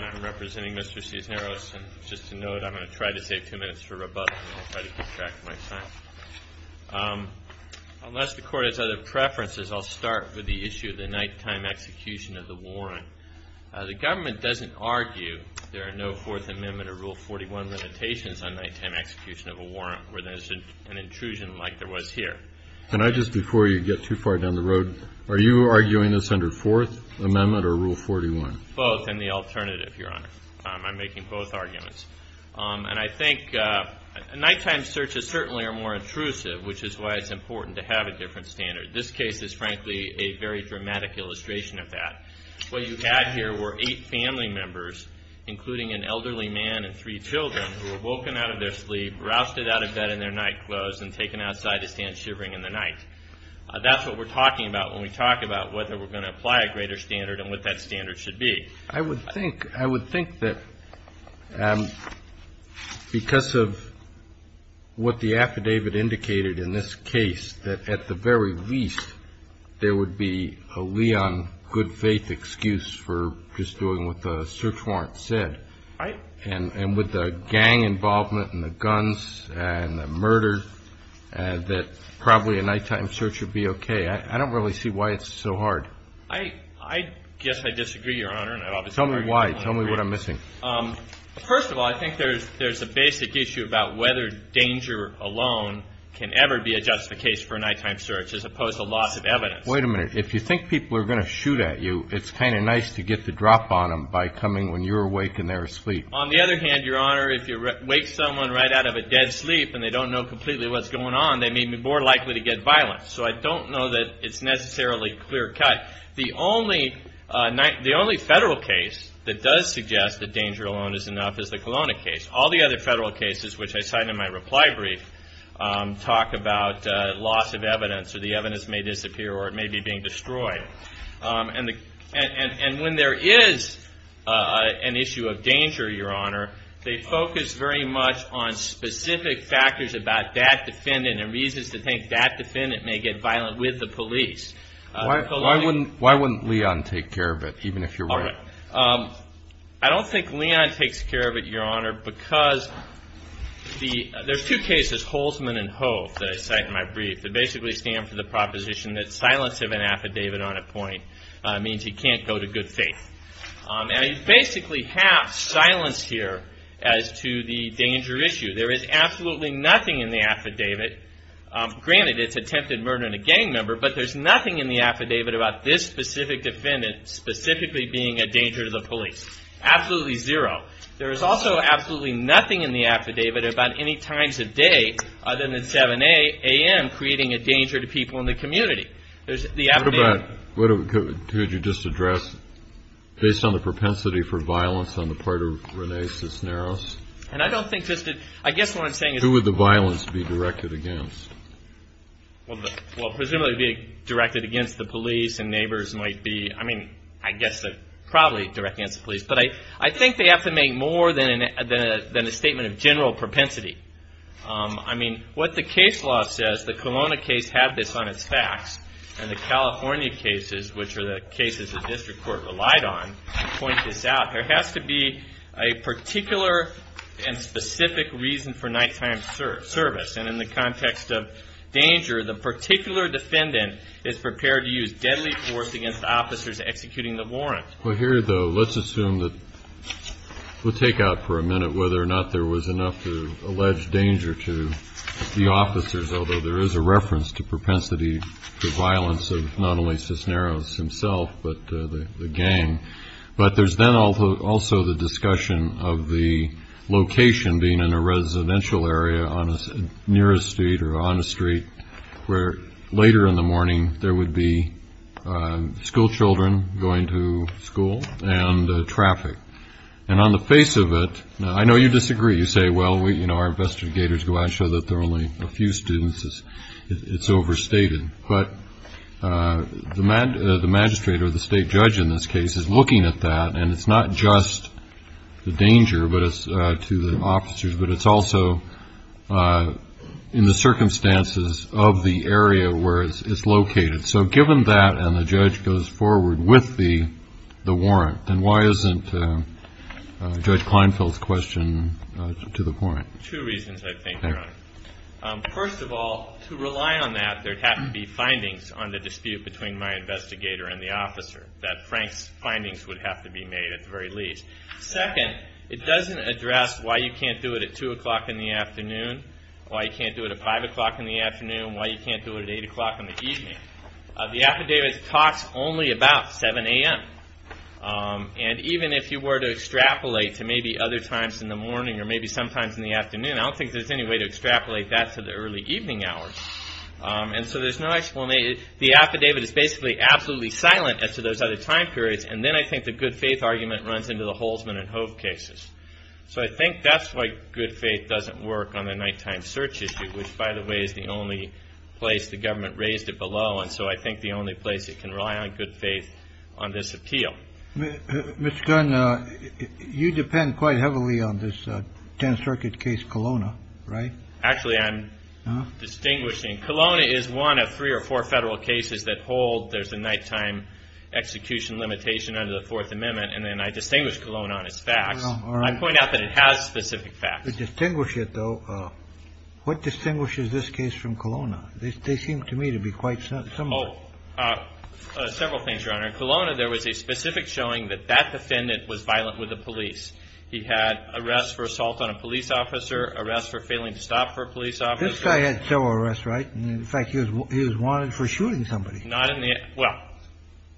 I'm representing Mr. Cisneros. Just a note, I'm going to try to save two minutes for rebuttal, and I'll try to keep track of my time. Unless the Court has other preferences, I'll start with the issue of the nighttime execution of the warrant. The Government doesn't argue there are no Fourth Amendment or Rule 41 limitations on nighttime execution of a warrant, where there's an intrusion like there was here. And I just, before you get too far down the road, are you arguing this under Fourth Amendment or Rule 41? Both and the alternative, Your Honor. I'm making both arguments. And I think nighttime searches certainly are more intrusive, which is why it's important to have a different standard. This case is, frankly, a very dramatic illustration of that. What you had here were eight family members, including an elderly man and three children, who were woken out of their sleep, rousted out of bed in their nightclothes, and taken outside to stand shivering in the night. That's what we're talking about when we talk about whether we're going to apply a greater standard and what that standard should be. I would think that because of what the affidavit indicated in this case, that at the very least there would be a Leon good-faith excuse for just doing what the search warrant said. Right. And with the gang involvement and the guns and the murder, that probably a nighttime search would be okay. I don't really see why it's so hard. I guess I disagree, Your Honor. Tell me why. Tell me what I'm missing. First of all, I think there's a basic issue about whether danger alone can ever be a justification for a nighttime search as opposed to lots of evidence. Wait a minute. If you think people are going to shoot at you, it's kind of nice to get the drop on them by coming when you're awake and they're asleep. On the other hand, Your Honor, if you wake someone right out of a dead sleep and they don't know completely what's going on, they may be more likely to get violent. So I don't know that it's necessarily clear-cut. The only federal case that does suggest that danger alone is enough is the Kelowna case. All the other federal cases, which I cite in my reply brief, talk about loss of evidence or the evidence may disappear or it may be being destroyed. And when there is an issue of danger, Your Honor, they focus very much on specific factors about that defendant and reasons to think that defendant may get violent with the police. Why wouldn't Leon take care of it, even if you're right? I don't think Leon takes care of it, Your Honor, because there are two cases, Holtzman and Hove, that I cite in my brief that basically stand for the proposition that silence of an affidavit on a point means you can't go to good faith. And you basically have silence here as to the danger issue. There is absolutely nothing in the affidavit. Granted, it's attempted murder and a gang member, but there's nothing in the affidavit about this specific defendant specifically being a danger to the police. Absolutely zero. There is also absolutely nothing in the affidavit about any times of day other than at 7 a.m. creating a danger to people in the community. Could you just address, based on the propensity for violence on the part of Rene Cisneros? And I don't think just that, I guess what I'm saying is Who would the violence be directed against? Well, presumably directed against the police and neighbors might be, I mean, I guess probably directed against the police. But I think they have to make more than a statement of general propensity. I mean, what the case law says, the Kelowna case had this on its facts, and the California cases, which are the cases the district court relied on, point this out. There has to be a particular and specific reason for nighttime service. And in the context of danger, the particular defendant is prepared to use deadly force against officers executing the warrant. Well, here, though, let's assume that we'll take out for a minute whether or not there was enough alleged danger to the officers, although there is a reference to propensity for violence of not only Cisneros himself but the gang. But there's then also the discussion of the location being in a residential area near a street or on a street where later in the morning there would be schoolchildren going to school and traffic. And on the face of it, I know you disagree. You say, well, you know, our investigators go out and show that there are only a few students. It's overstated. But the magistrate or the state judge in this case is looking at that, and it's not just the danger to the officers, but it's also in the circumstances of the area where it's located. So given that and the judge goes forward with the warrant, then why isn't Judge Kleinfeld's question to the point? Two reasons, I think, Your Honor. First of all, to rely on that, there would have to be findings on the dispute between my investigator and the officer, that Frank's findings would have to be made at the very least. Second, it doesn't address why you can't do it at 2 o'clock in the afternoon, why you can't do it at 5 o'clock in the afternoon, why you can't do it at 8 o'clock in the evening. The affidavit talks only about 7 a.m. And even if you were to extrapolate to maybe other times in the morning or maybe sometimes in the afternoon, I don't think there's any way to extrapolate that to the early evening hours. And so there's no explanation. The affidavit is basically absolutely silent as to those other time periods. And then I think the good faith argument runs into the Holzman and Hove cases. So I think that's why good faith doesn't work on the nighttime search issue, which, by the way, is the only place the government raised it below. And so I think the only place it can rely on good faith on this appeal. Mr. Gunn, you depend quite heavily on this 10th Circuit case, Kelowna, right? Actually, I'm distinguishing. Kelowna is one of three or four federal cases that hold there's a nighttime execution limitation under the Fourth Amendment. And then I distinguish Kelowna on its facts. I point out that it has specific facts. Distinguish it, though. What distinguishes this case from Kelowna? They seem to me to be quite similar. Several things, Your Honor. In Kelowna, there was a specific showing that that defendant was violent with the police. He had arrests for assault on a police officer, arrests for failing to stop for a police officer. This guy had several arrests, right? In fact, he was wanted for shooting somebody. Well,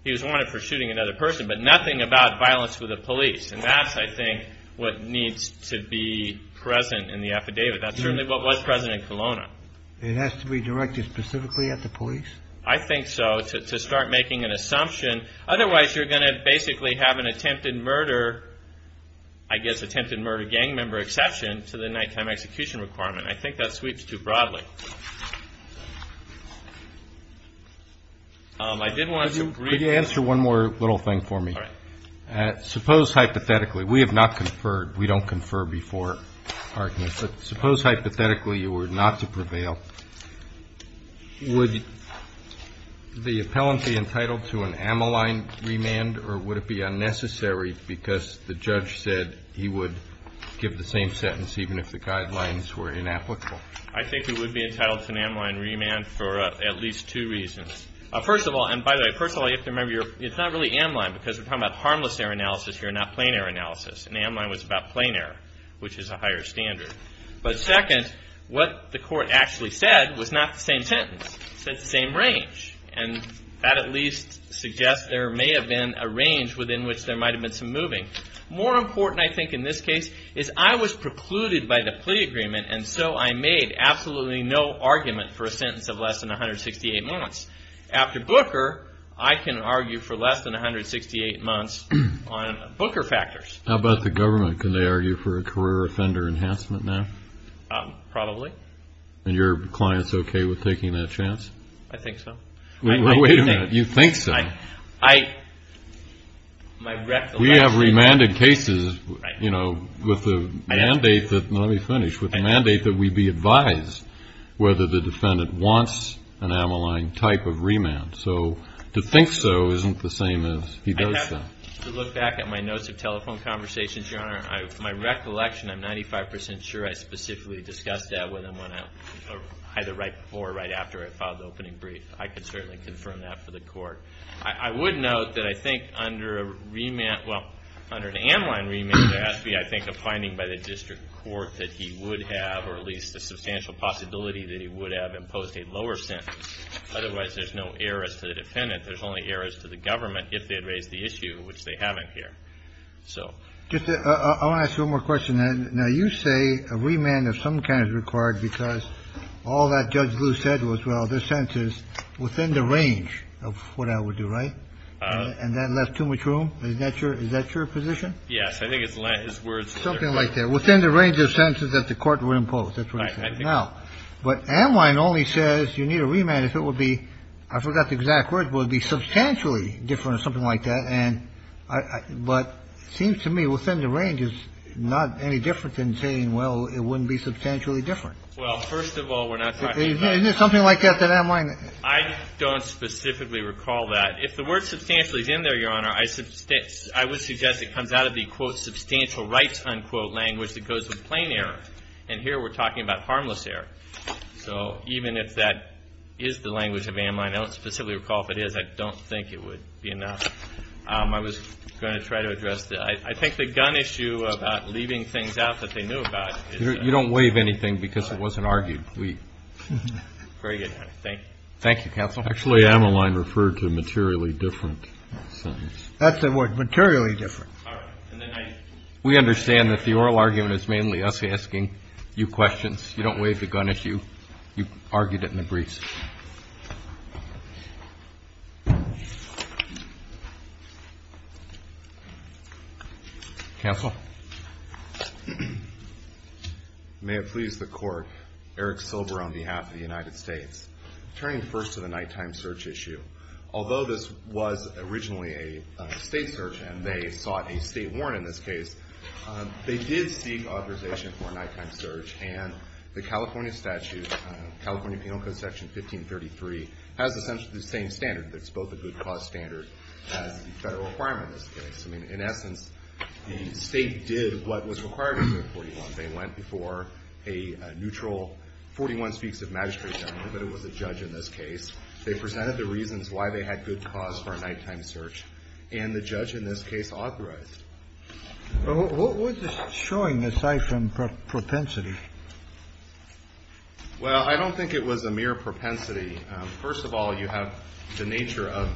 he was wanted for shooting another person, but nothing about violence with the police. And that's, I think, what needs to be present in the affidavit. That's certainly what was present in Kelowna. It has to be directed specifically at the police? I think so, to start making an assumption. Otherwise, you're going to basically have an attempted murder, I guess attempted murder gang member exception to the nighttime execution requirement. I think that sweeps too broadly. Could you answer one more little thing for me? All right. Suppose hypothetically, we have not conferred, we don't confer before arguments, but suppose hypothetically you were not to prevail, would the appellant be entitled to an ammaline remand or would it be unnecessary because the judge said he would give the same sentence even if the guidelines were inapplicable? I think he would be entitled to an ammaline remand for at least two reasons. First of all, and by the way, first of all, you have to remember it's not really ammaline because we're talking about harmless error analysis here, not plain error analysis. And ammaline was about plain error, which is a higher standard. But second, what the court actually said was not the same sentence. It said the same range. And that at least suggests there may have been a range within which there might have been some moving. More important, I think, in this case is I was precluded by the plea agreement and so I made absolutely no argument for a sentence of less than 168 months. After Booker, I can argue for less than 168 months on Booker factors. How about the government? Can they argue for a career offender enhancement now? Probably. And your client's okay with taking that chance? I think so. Wait a minute. You think so? I, my recollection. We have remanded cases, you know, with the mandate that, let me finish, with the mandate that we be advised whether the defendant wants an ammaline type of remand. So to think so isn't the same as he does that. I have to look back at my notes of telephone conversations, Your Honor. My recollection, I'm 95 percent sure I specifically discussed that with him either right before or right after I filed the opening brief. I can certainly confirm that for the court. I would note that I think under a remand, well, under an ammaline remand, there has to be, I think, a finding by the district court that he would have or at least a substantial possibility that he would have imposed a lower sentence. Otherwise, there's no errors to the defendant. There's only errors to the government if they had raised the issue, which they haven't here. So. I want to ask you one more question. Now, you say a remand of some kind is required because all that Judge Blue said was, well, this sentence, within the range of what I would do, right? And that left too much room? Is that your position? Yes. I think his words were different. Something like that. Within the range of sentences that the court would impose. That's what he said. Now, but ammaline only says you need a remand if it would be, I forgot the exact words, but it would be substantially different or something like that. And I, but it seems to me within the range is not any different than saying, well, it wouldn't be substantially different. Well, first of all, we're not talking about. Isn't there something like that, that ammaline? I don't specifically recall that. If the word substantial is in there, Your Honor, I would suggest it comes out of the quote substantial rights unquote language that goes with plain error. And here we're talking about harmless error. So even if that is the language of ammaline, I don't specifically recall if it is. I don't think it would be enough. I was going to try to address that. I think the gun issue about leaving things out that they knew about. You don't waive anything because it wasn't argued. Very good. Thank you. Thank you, counsel. Actually, ammaline referred to a materially different sentence. That's the word, materially different. All right. And then I. We understand that the oral argument is mainly us asking you questions. You don't waive the gun issue. You argued it in the briefs. Counsel. May it please the Court. Eric Silber on behalf of the United States. Turning first to the nighttime search issue. Although this was originally a state search and they sought a state warrant in this case, they did seek authorization for nighttime search and the California statute, California Penal Code Section 1533, has essentially the same standard. It's both a good cause standard and a federal requirement in this case. I mean, in essence, the State did what was required of the 41. They went before a neutral 41 speaks of magistrate general, but it was a judge in this case. They presented the reasons why they had good cause for a nighttime search and the judge in this case authorized. What was this showing aside from propensity? Well, I don't think it was a mere propensity. First of all, you have the nature of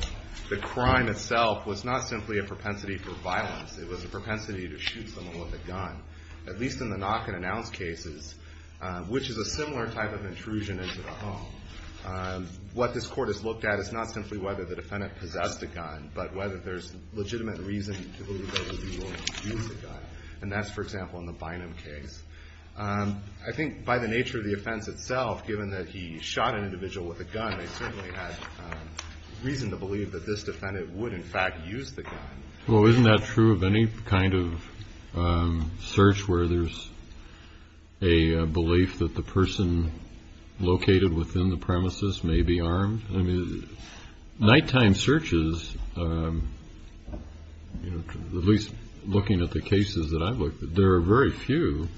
the crime itself was not simply a propensity for violence. It was a propensity to shoot someone with a gun, at least in the knock and announce cases, which is a similar type of intrusion into the home. What this Court has looked at is not simply whether the defendant possessed a gun, but whether there's legitimate reason to believe that he used a gun. And that's, for example, in the Bynum case. I think by the nature of the offense itself, given that he shot an individual with a gun, they certainly had reason to believe that this defendant would, in fact, use the gun. Well, isn't that true of any kind of search where there's a belief that the person located within the premises may be armed? I mean, nighttime searches, at least looking at the cases that I've looked at, there are very few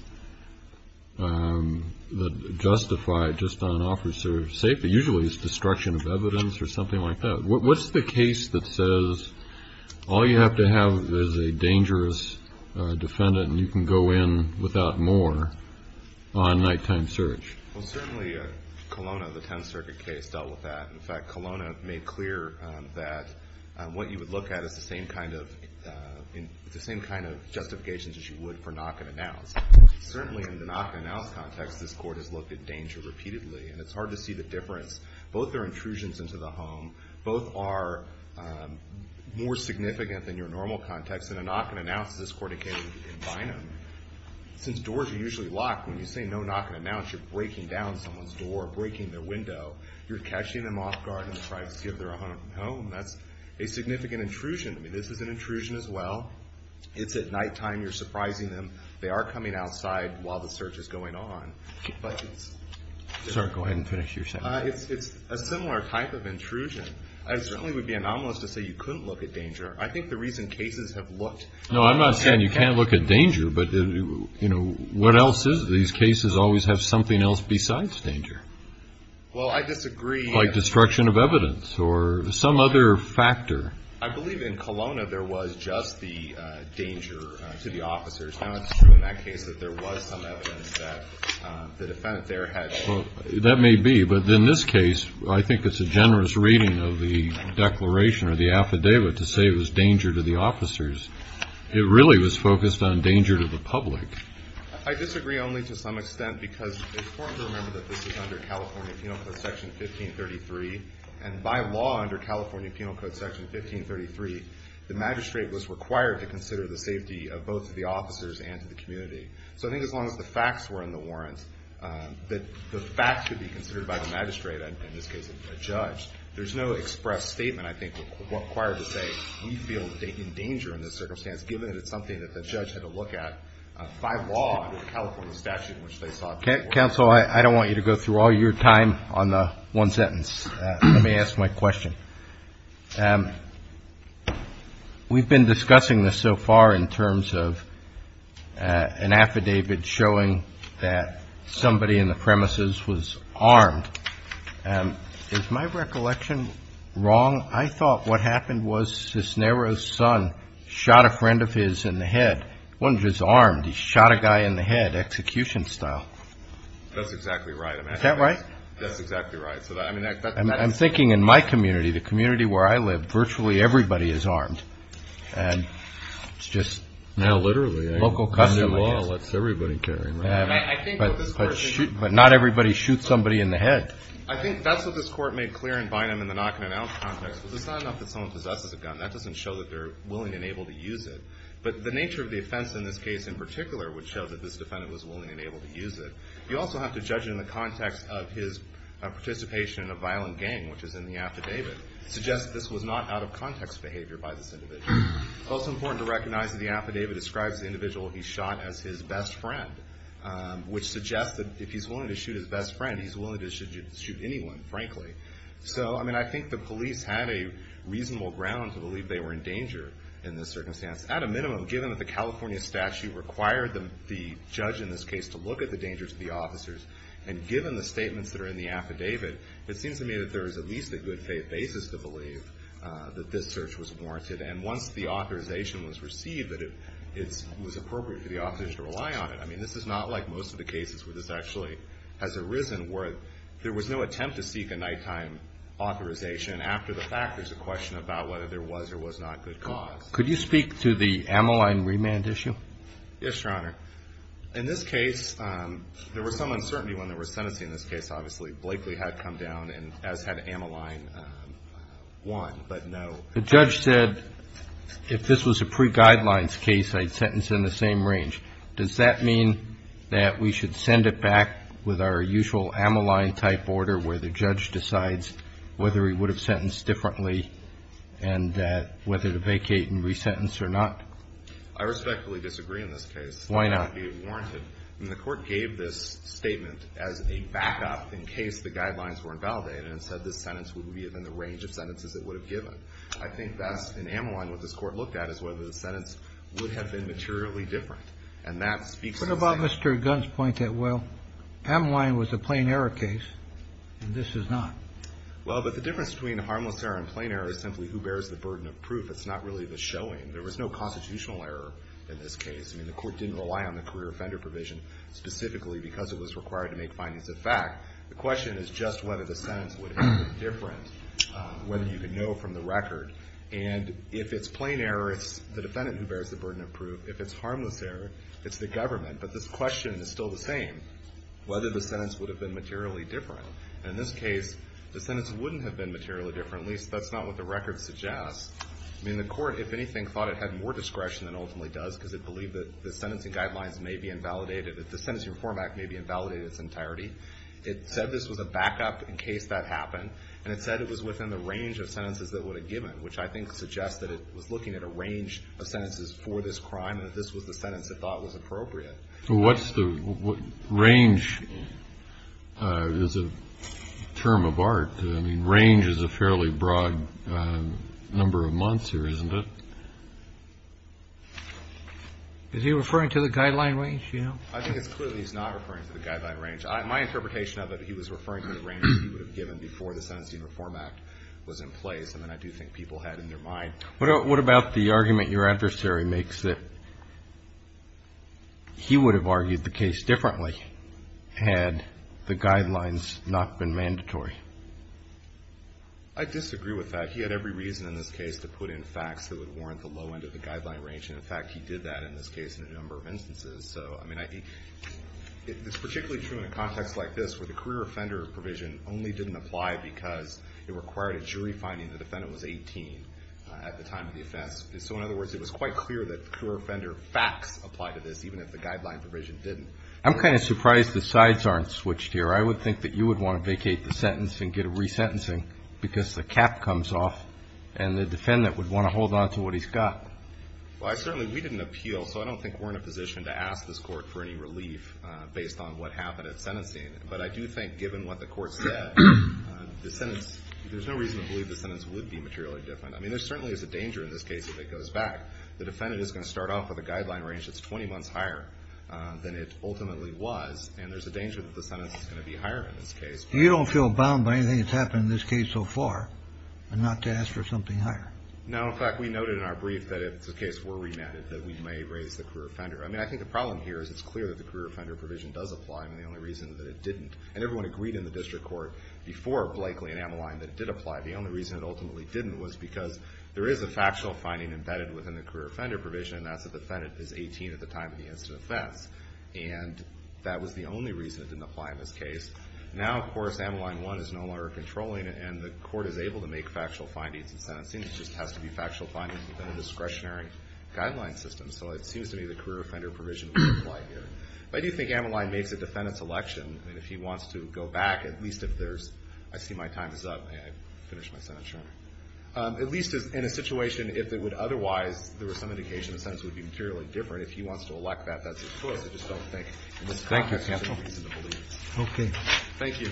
that justify just on officer safety. Usually it's destruction of evidence or something like that. What's the case that says all you have to have is a dangerous defendant and you can go in without more on nighttime search? Well, certainly Colonna, the 10th Circuit case, dealt with that. In fact, Colonna made clear that what you would look at is the same kind of justifications as you would for knock-and-announce. Certainly in the knock-and-announce context, this Court has looked at danger repeatedly, and it's hard to see the difference. Both are intrusions into the home. Both are more significant than your normal context. In a knock-and-announce, this Court, again, in Bynum, since doors are usually locked, when you say no knock-and-announce, you're breaking down someone's door, breaking their window. You're catching them off guard and trying to give their home. That's a significant intrusion. I mean, this is an intrusion as well. It's at nighttime. You're surprising them. They are coming outside while the search is going on. Sorry, go ahead and finish your sentence. It's a similar type of intrusion. I certainly would be anomalous to say you couldn't look at danger. I think the reason cases have looked. No, I'm not saying you can't look at danger, but what else is it? These cases always have something else besides danger. Well, I disagree. Like destruction of evidence or some other factor. I believe in Kelowna there was just the danger to the officers. Now, it's true in that case that there was some evidence that the defendant there had. Well, that may be. But in this case, I think it's a generous reading of the declaration or the affidavit to say it was danger to the officers. It really was focused on danger to the public. I disagree only to some extent because it's important to remember that this is under California Penal Code Section 1533. And by law, under California Penal Code Section 1533, the magistrate was required to consider the safety of both of the officers and to the community. So I think as long as the facts were in the warrants, that the facts should be considered by the magistrate, and in this case, a judge. There's no express statement, I think, required to say we feel in danger in this circumstance, given that it's something that the judge had to look at by law under the California statute in which they sought. Counsel, I don't want you to go through all your time on the one sentence. Let me ask my question. We've been discussing this so far in terms of an affidavit showing that somebody in the premises was armed. Is my recollection wrong? I thought what happened was Cisneros' son shot a friend of his in the head. He wasn't just armed. He shot a guy in the head, execution style. That's exactly right. Is that right? That's exactly right. I'm thinking in my community, the community where I live, virtually everybody is armed. And it's just local custom. No, literally. Under law, that's everybody carrying a gun. But not everybody shoots somebody in the head. I think that's what this Court made clear in Bynum in the knock-and-announce context. It's not enough that someone possesses a gun. That doesn't show that they're willing and able to use it. But the nature of the offense in this case in particular would show that this defendant was willing and able to use it. You also have to judge in the context of his participation in a violent gang, which is in the affidavit, suggests this was not out-of-context behavior by this individual. Also important to recognize that the affidavit describes the individual he shot as his best friend, which suggests that if he's willing to shoot his best friend, he's willing to shoot anyone, frankly. So, I mean, I think the police had a reasonable ground to believe they were in danger in this circumstance. At a minimum, given that the California statute required the judge in this case to look at the dangers of the officers, and given the statements that are in the affidavit, it seems to me that there is at least a good faith basis to believe that this search was warranted. And once the authorization was received, that it was appropriate for the officers to rely on it. I mean, this is not like most of the cases where this actually has arisen where there was no attempt to seek a nighttime authorization after the fact. There's a question about whether there was or was not good cause. Yes, Your Honor. In this case, there was some uncertainty when they were sentencing this case, obviously. Blakely had come down, and as had Ammaline, one, but no. The judge said if this was a pre-guidelines case, I'd sentence in the same range. Does that mean that we should send it back with our usual Ammaline-type order where the judge decides whether he would have sentenced differently and whether to vacate and resentence or not? I respectfully disagree in this case. Why not? It's not going to be warranted. I mean, the Court gave this statement as a backup in case the guidelines were invalidated and said this sentence would be within the range of sentences it would have given. I think that's, in Ammaline, what this Court looked at is whether the sentence would have been materially different. And that speaks to the same thing. What about Mr. Gunn's point that, well, Ammaline was a plain error case, and this is not? Well, but the difference between harmless error and plain error is simply who bears the burden of proof. It's not really the showing. There was no constitutional error in this case. I mean, the Court didn't rely on the career offender provision specifically because it was required to make findings of fact. The question is just whether the sentence would have been different, whether you could know from the record. And if it's plain error, it's the defendant who bears the burden of proof. If it's harmless error, it's the government. But this question is still the same, whether the sentence would have been materially different. And in this case, the sentence wouldn't have been materially different, at least that's not what the record suggests. I mean, the Court, if anything, thought it had more discretion than ultimately does because it believed that the sentencing guidelines may be invalidated, that the Sentencing Reform Act may be invalidated in its entirety. It said this was a backup in case that happened. And it said it was within the range of sentences that it would have given, which I think suggests that it was looking at a range of sentences for this crime and that this was the sentence it thought was appropriate. So what's the range is a term of art. I mean, range is a fairly broad number of months here, isn't it? Is he referring to the guideline range, you know? I think it's clear that he's not referring to the guideline range. My interpretation of it, he was referring to the range he would have given before the Sentencing Reform Act was in place. I mean, I do think people had in their mind. What about the argument your adversary makes that he would have argued the case differently had the guidelines not been mandatory? I disagree with that. He had every reason in this case to put in facts that would warrant the low end of the guideline range. And, in fact, he did that in this case in a number of instances. So, I mean, it's particularly true in a context like this where the career offender provision only didn't apply because it required a jury finding the defendant was 18 at the time of the offense. So, in other words, it was quite clear that the career offender facts applied to this, even if the guideline provision didn't. I'm kind of surprised the sides aren't switched here. I would think that you would want to vacate the sentence and get a resentencing because the cap comes off and the defendant would want to hold on to what he's got. Well, certainly we didn't appeal, so I don't think we're in a position to ask this court for any relief based on what happened at sentencing. But I do think, given what the court said, the sentence, there's no reason to believe the sentence would be materially different. I mean, there certainly is a danger in this case if it goes back. The defendant is going to start off with a guideline range that's 20 months higher than it ultimately was, and there's a danger that the sentence is going to be higher in this case. You don't feel bound by anything that's happened in this case so far, and not to ask for something higher? No, in fact, we noted in our brief that if the case were remanded, that we may raise the career offender. I mean, I think the problem here is it's clear that the career offender provision does apply, and the only reason that it didn't, and everyone agreed in the district court, before Blakely and Ameline, that it did apply. The only reason it ultimately didn't was because there is a factual finding embedded within the career offender provision, and that's that the defendant is 18 at the time of the incident of offense. And that was the only reason it didn't apply in this case. Now, of course, Ameline 1 is no longer controlling, and the court is able to make factual findings in sentencing. It just has to be factual findings within a discretionary guideline system. So it seems to me the career offender provision would apply here. But I do think Ameline makes a defendant's election. I mean, if he wants to go back, at least if there's – I see my time is up. May I finish my sentence? Sure. At least in a situation if it would otherwise – there was some indication the sentence would be materially different. If he wants to elect that, that's his choice. I just don't think in this context there's any reason to believe it. Okay. Thank you.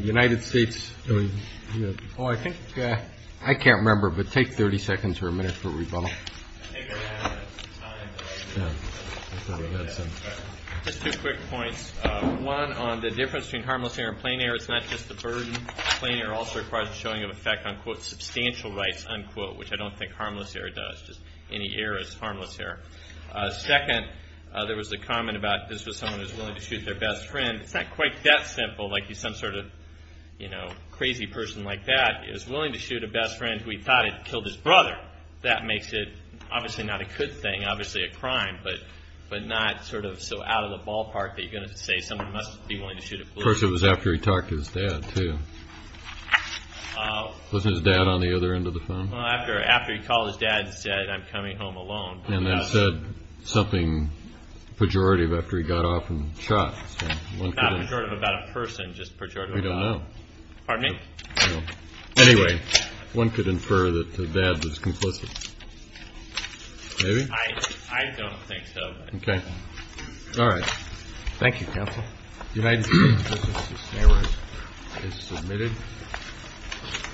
United States – oh, I think – I can't remember, but take 30 seconds or a minute for rebuttal. Just two quick points. One, on the difference between harmless error and plain error, it's not just the burden. Plain error also requires the showing of effect on, quote, substantial rights, unquote, which I don't think harmless error does. Just any error is harmless error. Second, there was a comment about this was someone who was willing to shoot their best friend. It's not quite that simple. Like, some sort of, you know, crazy person like that is willing to shoot a best friend who he thought had killed his brother. That makes it obviously not a good thing, obviously a crime, but not sort of so out of the ballpark that you're going to say someone must be willing to shoot a policeman. Of course, it was after he talked to his dad, too. Wasn't his dad on the other end of the phone? Well, after he called his dad and said, I'm coming home alone. And then said something pejorative after he got off and shot. Not pejorative about a person, just pejorative about – We don't know. Pardon me? I don't know. Anyway, one could infer that the dad was complicit. Maybe? I don't think so. Okay. All right. Thank you, counsel. The United States District of Consumers is submitted.